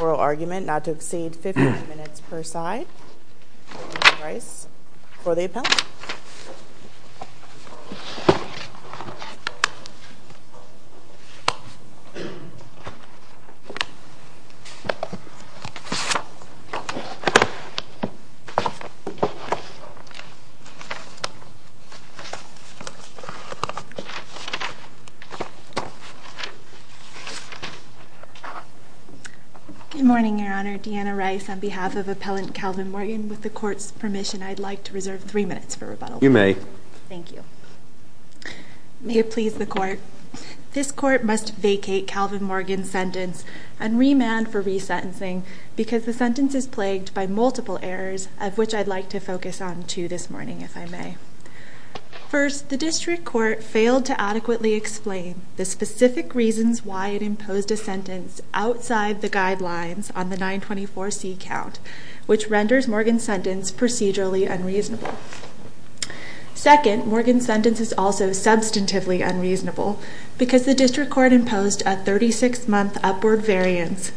Oral argument, not to exceed 15 minutes per side. Ms. Rice, for the appellate. Good morning, Your Honor. Deanna Rice on behalf of Appellant Calvin Morgan. With the Court's permission, I'd like to reserve three minutes for rebuttal. You may. Thank you. May it please the Court. This Court must vacate Calvin Morgan's sentence and remand for resentencing because the sentence is plagued by multiple errors, of which I'd like to focus on two this morning, if I may. First, the District Court failed to adequately explain the specific reasons why it imposed a sentence outside the guidelines on the 924C count, which renders Morgan's sentence procedurally unreasonable. Second, Morgan's sentence is also substantively unreasonable because the District Court imposed a 36-month upward variance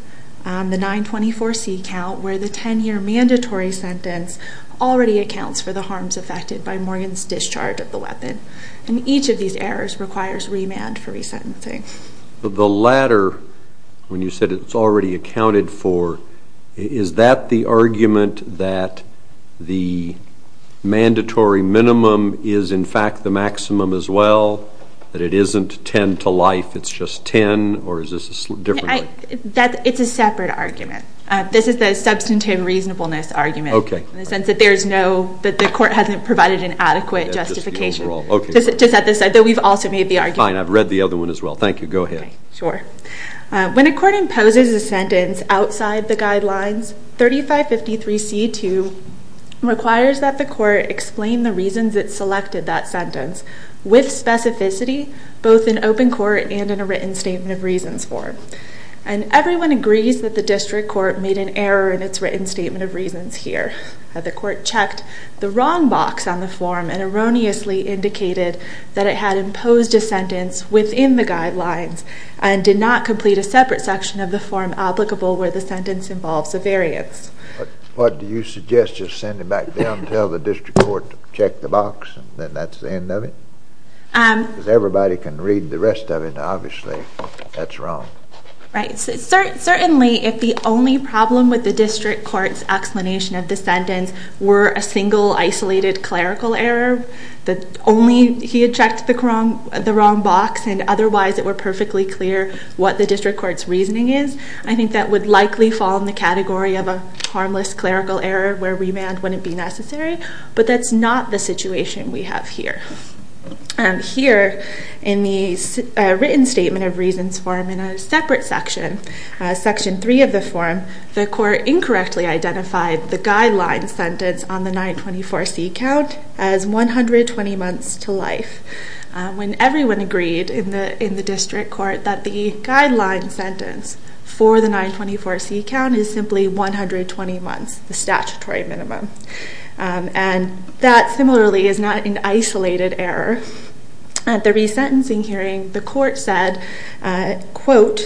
on the 924C count where the 10-year mandatory sentence already accounts for the harms affected by Morgan's discharge of the weapon. And each of these errors requires remand for resentencing. The latter, when you said it's already accounted for, is that the argument that the mandatory minimum is, in fact, the maximum as well, that it isn't 10 to life, it's just 10, or is this a different way? It's a separate argument. This is the substantive reasonableness argument in the sense that there is no, that the Court hasn't provided an adequate justification. Just at this side, though we've also made the argument. Fine, I've read the other one as well. Thank you. Go ahead. Okay, sure. When a court imposes a sentence outside the guidelines, 3553C2 requires that the Court explain the reasons it selected that sentence with specificity, both in open court and in a written statement of reasons form. And everyone agrees that the District Court made an error in its written statement of reasons here. The Court checked the wrong box on the form and erroneously indicated that it had imposed a sentence within the guidelines and did not complete a separate section of the form applicable where the sentence involves a variance. What do you suggest? Just send it back down and tell the District Court to check the box and then that's the end of it? Because everybody can read the rest of it, and obviously that's wrong. Right. Certainly, if the only problem with the District Court's explanation of the sentence were a single, isolated clerical error, that only he had checked the wrong box and otherwise it were perfectly clear what the District Court's reasoning is, I think that would likely fall in the category of a harmless clerical error where remand wouldn't be necessary. But that's not the situation we have here. Here, in the written statement of reasons form in a separate section, Section 3 of the form, the Court incorrectly identified the guideline sentence on the 924C count as 120 months to life when everyone agreed in the District Court that the guideline sentence for the 924C count is simply 120 months, the statutory minimum. And that, similarly, is not an isolated error. At the resentencing hearing, the Court said, quote,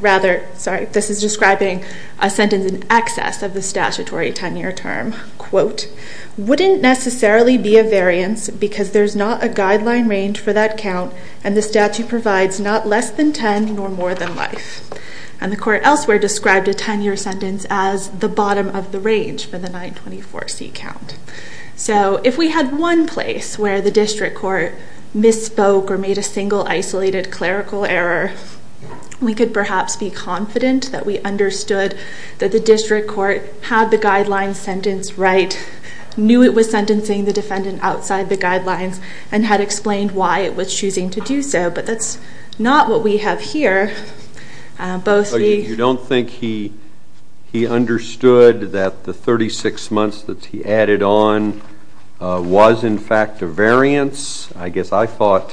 rather, sorry, this is describing a sentence in excess of the statutory 10-year term, quote, wouldn't necessarily be a variance because there's not a guideline range for that count and the statute provides not less than 10 nor more than life. And the Court elsewhere described a 10-year sentence as the bottom of the range for the 924C count. So if we had one place where the District Court misspoke or made a single isolated clerical error, we could perhaps be confident that we understood that the District Court had the guideline sentence right, knew it was sentencing the defendant outside the guidelines, and had explained why it was choosing to do so. But that's not what we have here. You don't think he understood that the 36 months that he added on was, in fact, a variance? I guess I thought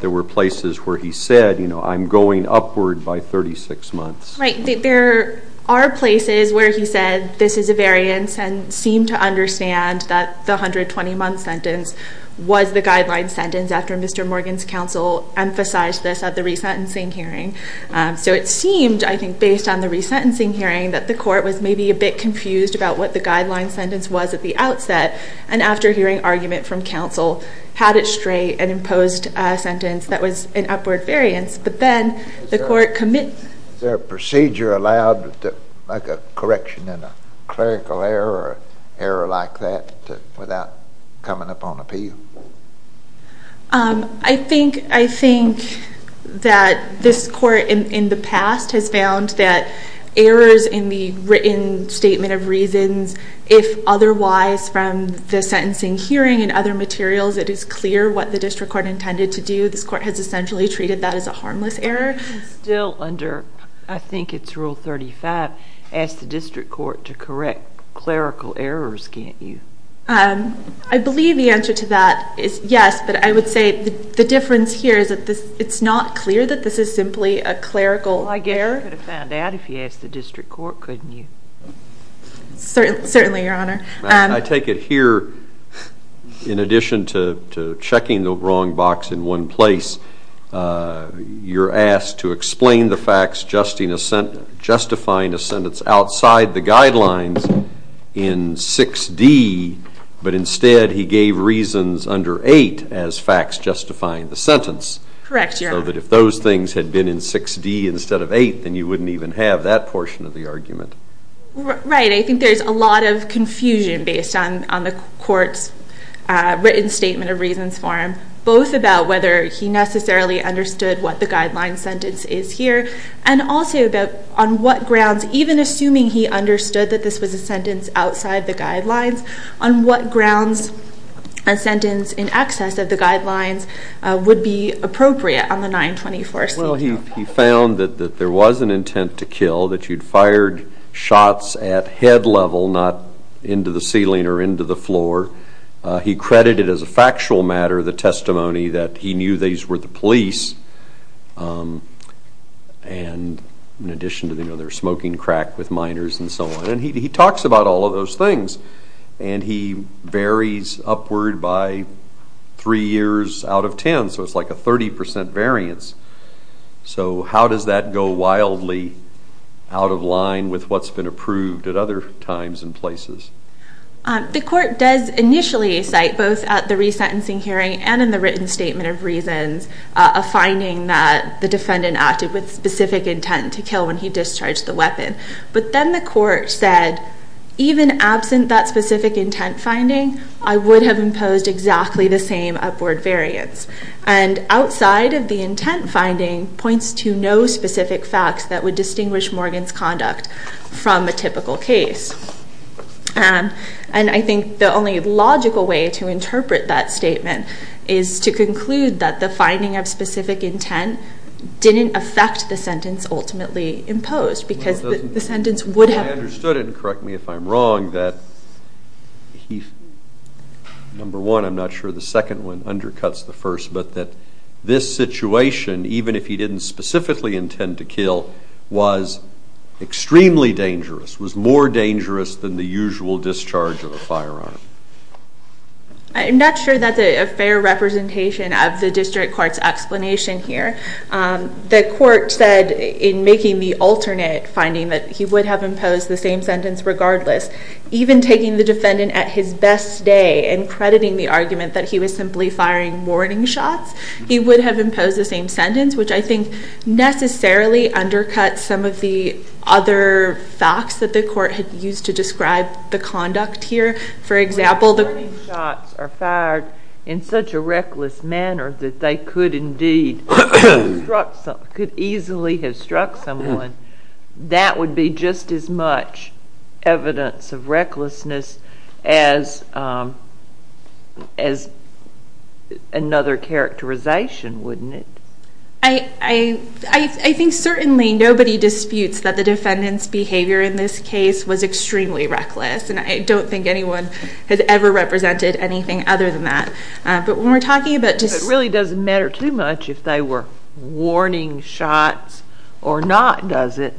there were places where he said, you know, I'm going upward by 36 months. Right, there are places where he said this is a variance and seemed to understand that the 120-month sentence was the guideline sentence after Mr. Morgan's counsel emphasized this at the resentencing hearing. So it seemed, I think, based on the resentencing hearing, that the Court was maybe a bit confused about what the guideline sentence was at the outset. And after hearing argument from counsel, had it straight and imposed a sentence that was an upward variance. But then the Court committed... Is there a procedure allowed to make a correction in a clerical error or error like that without coming up on appeal? I think that this Court in the past has found that errors in the written statement of reasons, if otherwise from the sentencing hearing and other materials, it is clear what the District Court intended to do. This Court has essentially treated that as a harmless error. Still under, I think it's Rule 35, ask the District Court to correct clerical errors, can't you? I believe the answer to that is yes, but I would say the difference here is that it's not clear that this is simply a clerical error. You could have found out if you asked the District Court, couldn't you? Certainly, Your Honor. I take it here, in addition to checking the wrong box in one place, you're asked to explain the facts justifying a sentence outside the guidelines in 6D, but instead he gave reasons under 8 as facts justifying the sentence. Correct, Your Honor. So that if those things had been in 6D instead of 8, then you wouldn't even have that portion of the argument. Right, I think there's a lot of confusion based on the Court's written statement of reasons for him, both about whether he necessarily understood what the guideline sentence is here and also about on what grounds, even assuming he understood that this was a sentence outside the guidelines, on what grounds a sentence in excess of the guidelines would be appropriate on the 924C. Well, he found that there was an intent to kill, that you'd fired shots at head level, not into the ceiling or into the floor. He credited as a factual matter the testimony that he knew these were the police, and in addition to, you know, they were smoking crack with minors and so on. And he talks about all of those things, and he varies upward by 3 years out of 10, so it's like a 30% variance. So how does that go wildly out of line with what's been approved at other times and places? The Court does initially cite, both at the resentencing hearing and in the written statement of reasons, a finding that the defendant acted with specific intent to kill when he discharged the weapon. But then the Court said, even absent that specific intent finding, I would have imposed exactly the same upward variance. And outside of the intent finding points to no specific facts that would distinguish Morgan's conduct from a typical case. And I think the only logical way to interpret that statement is to conclude that the finding of specific intent didn't affect the sentence ultimately imposed, because the sentence would have... I understood it, and correct me if I'm wrong, that number one, I'm not sure, the second one undercuts the first, but that this situation, even if he didn't specifically intend to kill, was extremely dangerous, was more dangerous than the usual discharge of a firearm. I'm not sure that's a fair representation of the District Court's explanation here. The Court said in making the alternate finding that he would have imposed the same sentence regardless. Even taking the defendant at his best day and crediting the argument that he was simply firing warning shots, he would have imposed the same sentence, which I think necessarily undercuts some of the other facts that the Court had used to describe the conduct here. For example, the... ...warning shots are fired in such a reckless manner that they could easily have struck someone. That would be just as much evidence of recklessness as another characterization, wouldn't it? I think certainly nobody disputes that the defendant's behavior in this case was extremely reckless, and I don't think anyone has ever represented anything other than that. But when we're talking about... It really doesn't matter too much if they were warning shots or not, does it?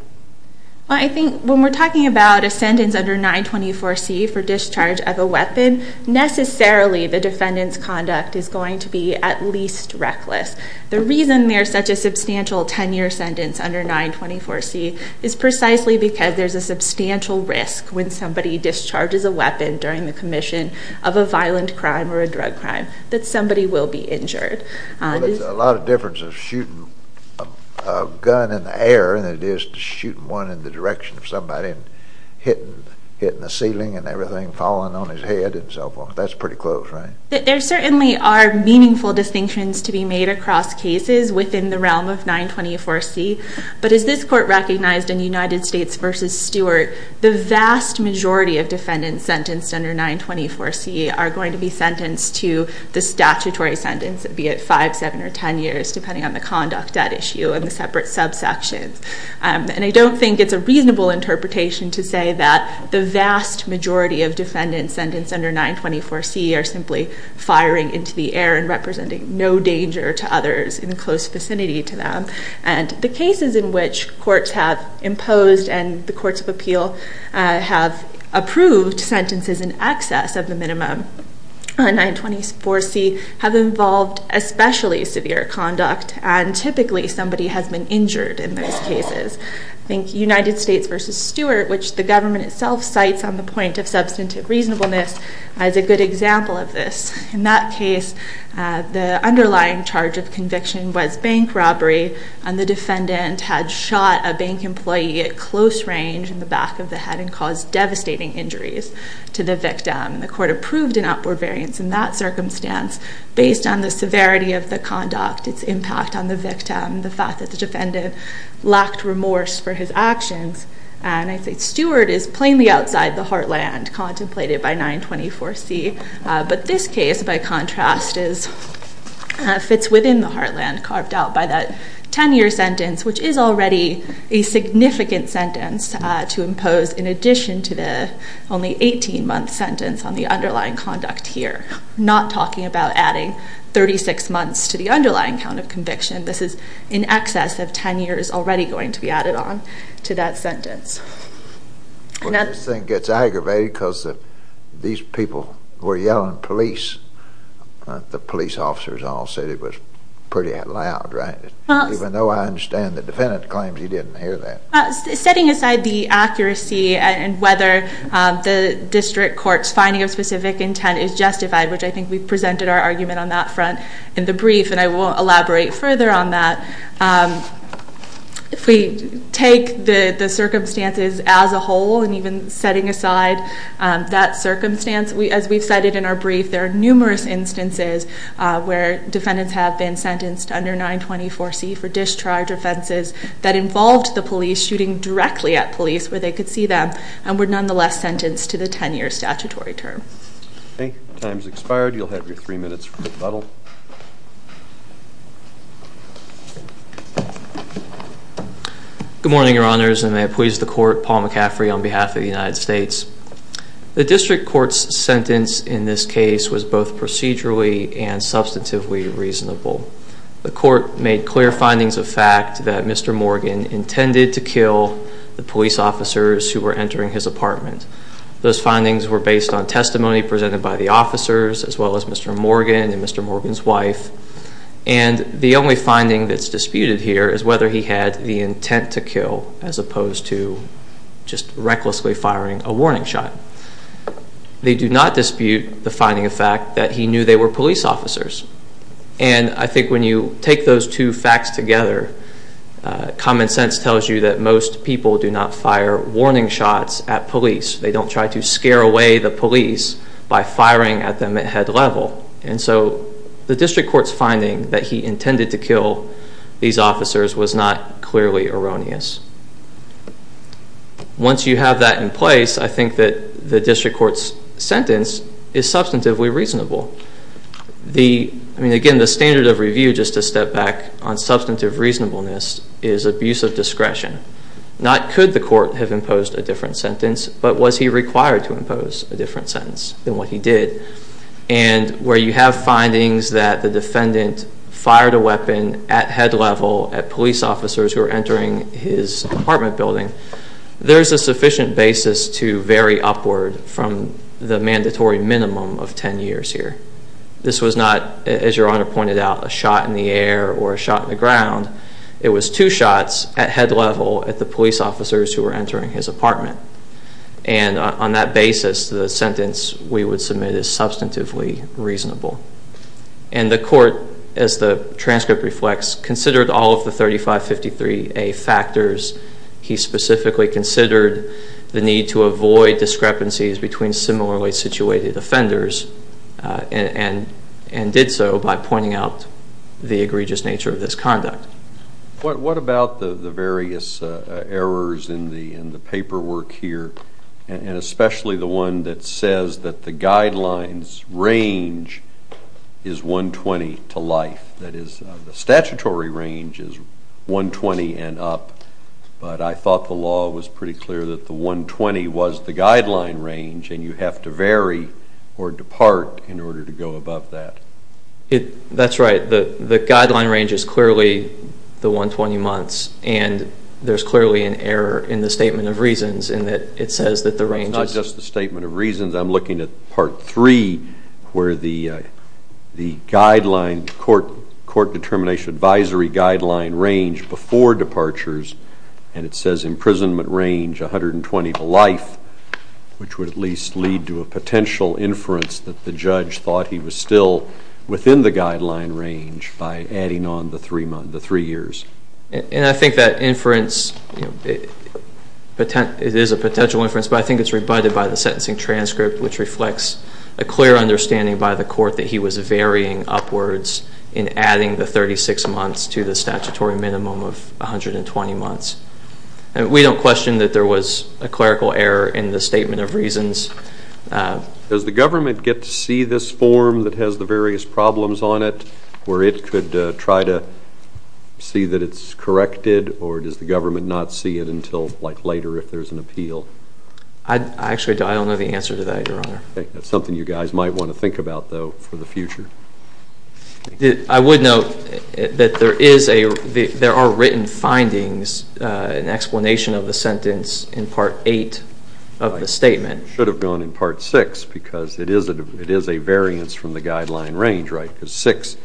I think when we're talking about a sentence under 924C for discharge of a weapon, necessarily the defendant's conduct is going to be at least reckless. The reason there's such a substantial 10-year sentence under 924C is precisely because there's a substantial risk when somebody discharges a weapon during the commission of a violent crime or a drug crime that somebody will be injured. Well, there's a lot of difference of shooting a gun in the air than it is shooting one in the direction of somebody and hitting the ceiling and everything, falling on his head and so forth. That's pretty close, right? There certainly are meaningful distinctions to be made across cases within the realm of 924C, but as this court recognized in United States v. Stewart, the vast majority of defendants sentenced under 924C are going to be sentenced to the statutory sentence be it 5, 7, or 10 years, depending on the conduct at issue and the separate subsections. And I don't think it's a reasonable interpretation to say that the vast majority of defendants sentenced under 924C are simply firing into the air and representing no danger to others in the close vicinity to them. And the cases in which courts have imposed and the courts of appeal have approved sentences in excess of the minimum on 924C have involved especially severe conduct and typically somebody has been injured in those cases. I think United States v. Stewart, which the government itself cites on the point of substantive reasonableness as a good example of this. In that case, the underlying charge of conviction was bank robbery and the defendant had shot a bank employee at close range in the back of the head and caused devastating injuries to the victim. The court approved an upward variance in that circumstance based on the severity of the conduct, its impact on the victim, the fact that the defendant lacked remorse for his actions. And I think Stewart is plainly outside the heartland contemplated by 924C. But this case, by contrast, fits within the heartland carved out by that 10-year sentence, which is already a significant sentence to impose in addition to the only 18-month sentence on the underlying conduct here. I'm not talking about adding 36 months to the underlying count of conviction. This is in excess of 10 years already going to be added on to that sentence. Well, this thing gets aggravated because these people were yelling police. The police officers all said it was pretty loud, right? Even though I understand the defendant claims he didn't hear that. Setting aside the accuracy and whether the district court's finding of specific intent is justified, which I think we've presented our argument on that front in the brief, and I will elaborate further on that. If we take the circumstances as a whole and even setting aside that circumstance, as we've cited in our brief, there are numerous instances where defendants have been sentenced under 924C for discharge offenses that involved the police shooting directly at police where they could see them and were nonetheless sentenced to the 10-year statutory term. I think your time's expired. You'll have your three minutes for rebuttal. Good morning, Your Honors, and may it please the Court, Paul McCaffrey on behalf of the United States. The district court's sentence in this case was both procedurally and substantively reasonable. The court made clear findings of fact that Mr. Morgan intended to kill the police officers who were entering his apartment. Those findings were based on testimony presented by the officers as well as Mr. Morgan and Mr. Morgan's wife, and the only finding that's disputed here is whether he had the intent to kill as opposed to just recklessly firing a warning shot. They do not dispute the finding of fact that he knew they were police officers, and I think when you take those two facts together, common sense tells you that most people do not fire warning shots at police. They don't try to scare away the police by firing at them at head level, and so the district court's finding that he intended to kill these officers was not clearly erroneous. Once you have that in place, I think that the district court's sentence is substantively reasonable. I mean, again, the standard of review, just to step back on substantive reasonableness, is abuse of discretion. Not could the court have imposed a different sentence, but was he required to impose a different sentence than what he did, and where you have findings that the defendant fired a weapon at head level at police officers who were entering his apartment building, there's a sufficient basis to vary upward from the mandatory minimum of 10 years here. This was not, as Your Honor pointed out, a shot in the air or a shot in the ground. It was two shots at head level at the police officers who were entering his apartment, and on that basis, the sentence we would submit is substantively reasonable, and the court, as the transcript reflects, considered all of the 3553A factors. He specifically considered the need to avoid discrepancies between similarly situated offenders and did so by pointing out the egregious nature of this conduct. What about the various errors in the paperwork here, and especially the one that says that the guidelines range is 120 to life? That is, the statutory range is 120 and up, but I thought the law was pretty clear that the 120 was the guideline range, and you have to vary or depart in order to go above that. That's right. The guideline range is clearly the 120 months, and there's clearly an error in the Statement of Reasons in that it says that the range is... It's not just the Statement of Reasons. I'm looking at Part 3, where the court determination advisory guideline range before departures, and it says imprisonment range 120 to life, which would at least lead to a potential inference that the judge thought he was still within the guideline range by adding on the three years. And I think that inference... It is a potential inference, but I think it's rebutted by the sentencing transcript, which reflects a clear understanding by the court that he was varying upwards in adding the 36 months to the statutory minimum of 120 months. We don't question that there was a clerical error in the Statement of Reasons. Does the government get to see this form that has the various problems on it, where it could try to see that it's corrected, or does the government not see it until later if there's an appeal? Actually, I don't know the answer to that, Your Honor. That's something you guys might want to think about, though, for the future. I would note that there are written findings, an explanation of the sentence in Part 8 of the statement. It should have gone in Part 6, because it is a variance from the guideline range, right? Because 6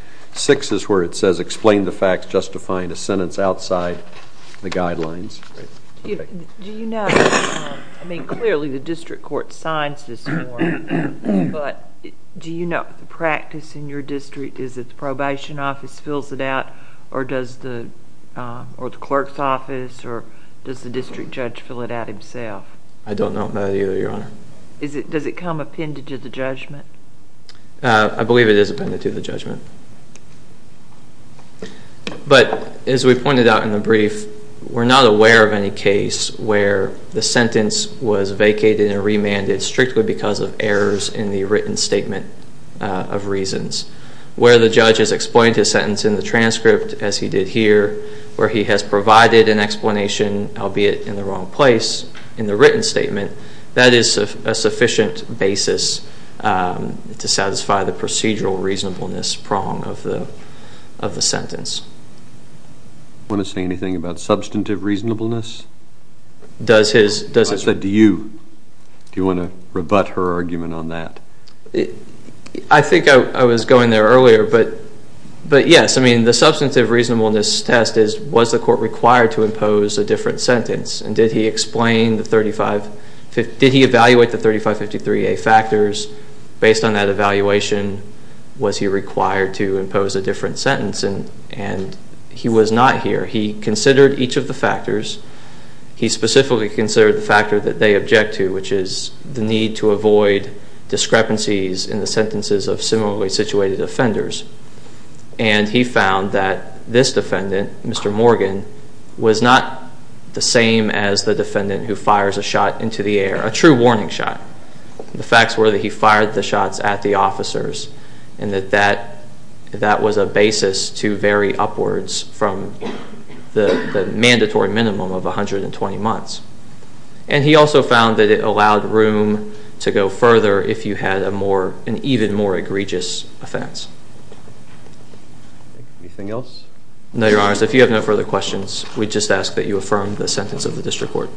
is where it says, explain the facts justifying a sentence outside the guidelines. Do you know... I mean, clearly, the district court signs this form, but do you know if the practice in your district is that the probation office fills it out, or does the clerk's office, or does the district judge fill it out himself? I don't know that either, Your Honor. Does it come appended to the judgment? I believe it is appended to the judgment. But as we pointed out in the brief, we're not aware of any case where the sentence was vacated and remanded strictly because of errors in the written statement of reasons. Where the judge has explained his sentence in the transcript, as he did here, where he has provided an explanation, albeit in the wrong place, in the written statement, that is a sufficient basis to satisfy the procedural reasonableness prong of the sentence. You want to say anything about substantive reasonableness? I said, do you? Do you want to rebut her argument on that? I think I was going there earlier, but yes. I mean, the substantive reasonableness test is, was the court required to impose a different sentence, and did he evaluate the 3553A factors? Based on that evaluation, was he required to impose a different sentence, and he was not here. He considered each of the factors. He specifically considered the factor that they object to, which is the need to avoid discrepancies in the sentences of similarly situated offenders. And he found that this defendant, Mr. Morgan, was not the same as the defendant who fires a shot into the air, a true warning shot. The facts were that he fired the shots at the officers, and that that was a basis to vary upwards from the mandatory minimum of 120 months. And he also found that it allowed room to go further if you had an even more egregious offense. Anything else? No, Your Honor, so if you have no further questions, we just ask that you affirm the sentence of the district court.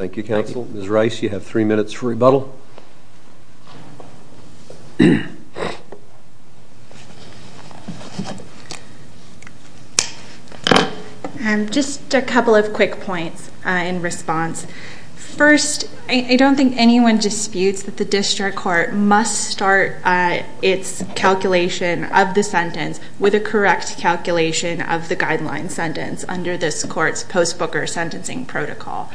Ms. Rice, you have three minutes for rebuttal. Rebuttal. Just a couple of quick points in response. First, I don't think anyone disputes that the district court must start its calculation of the sentence with a correct calculation of the guideline sentence under this court's post-booker sentencing protocol.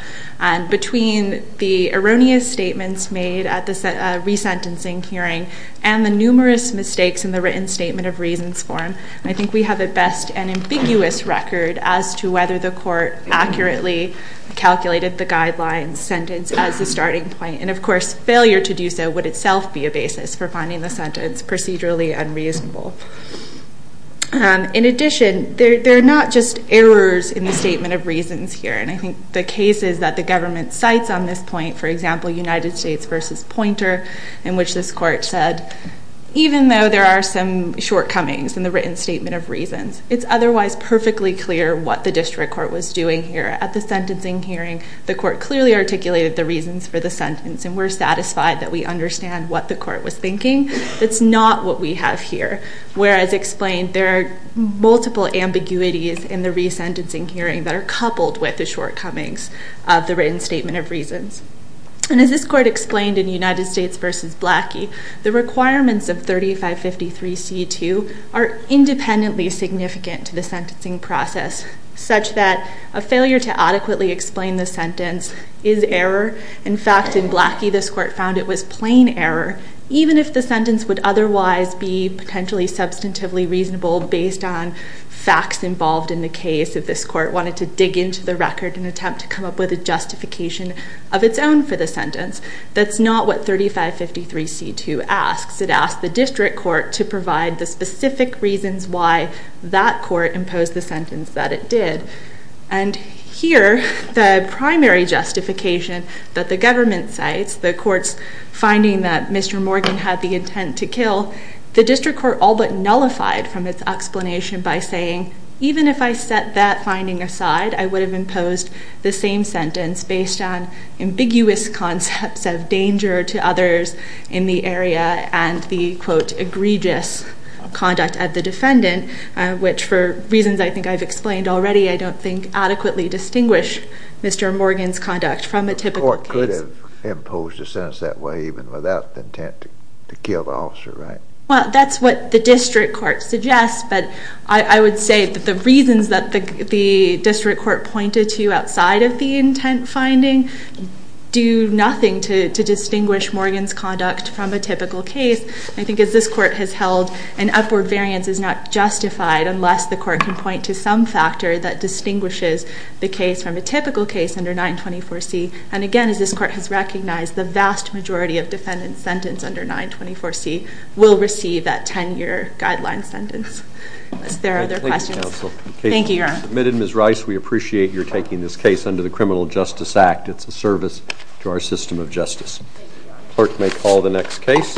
Between the erroneous statements made at the resentencing hearing and the numerous mistakes in the written statement of reasons form, I think we have at best an ambiguous record as to whether the court accurately calculated the guideline sentence as the starting point. And of course, failure to do so would itself be a basis for finding the sentence procedurally unreasonable. In addition, there are not just errors in the statement of reasons here. And I think the cases that the government cites on this point, for example, United States v. Poynter, in which this court said, even though there are some shortcomings in the written statement of reasons, it's otherwise perfectly clear what the district court was doing here at the sentencing hearing. The court clearly articulated the reasons for the sentence, and we're satisfied that we understand what the court was thinking. It's not what we have here. Whereas explained, there are multiple ambiguities in the resentencing hearing that are coupled with the shortcomings of the written statement of reasons. And as this court explained in United States v. Blackie, the requirements of 3553c.2 are independently significant to the sentencing process, such that a failure to adequately explain the sentence is error. In fact, in Blackie, this court found it was plain error, even if the sentence would otherwise be potentially substantively reasonable based on facts involved in the case, and the case of this court wanted to dig into the record and attempt to come up with a justification of its own for the sentence. That's not what 3553c.2 asks. It asks the district court to provide the specific reasons why that court imposed the sentence that it did. And here, the primary justification that the government cites, the court's finding that Mr. Morgan had the intent to kill, the district court all but nullified from its explanation by saying, even if I set that finding aside, I would have imposed the same sentence based on ambiguous concepts of danger to others in the area and the, quote, egregious conduct of the defendant, which, for reasons I think I've explained already, I don't think adequately distinguish Mr. Morgan's conduct from a typical case. The court could have imposed the sentence that way, even without the intent to kill the officer, right? Well, that's what the district court suggests, but I would say that the reasons that the district court pointed to outside of the intent finding do nothing to distinguish Morgan's conduct from a typical case. I think as this court has held, an upward variance is not justified unless the court can point to some factor that distinguishes the case from a typical case under 924c. And again, as this court has recognized, the vast majority of defendants sentenced under 924c will receive that 10-year guideline sentence. Are there other questions? Thank you, Your Honor. The case has been submitted. Ms. Rice, we appreciate your taking this case under the Criminal Justice Act. It's a service to our system of justice. Clerk may call the next case.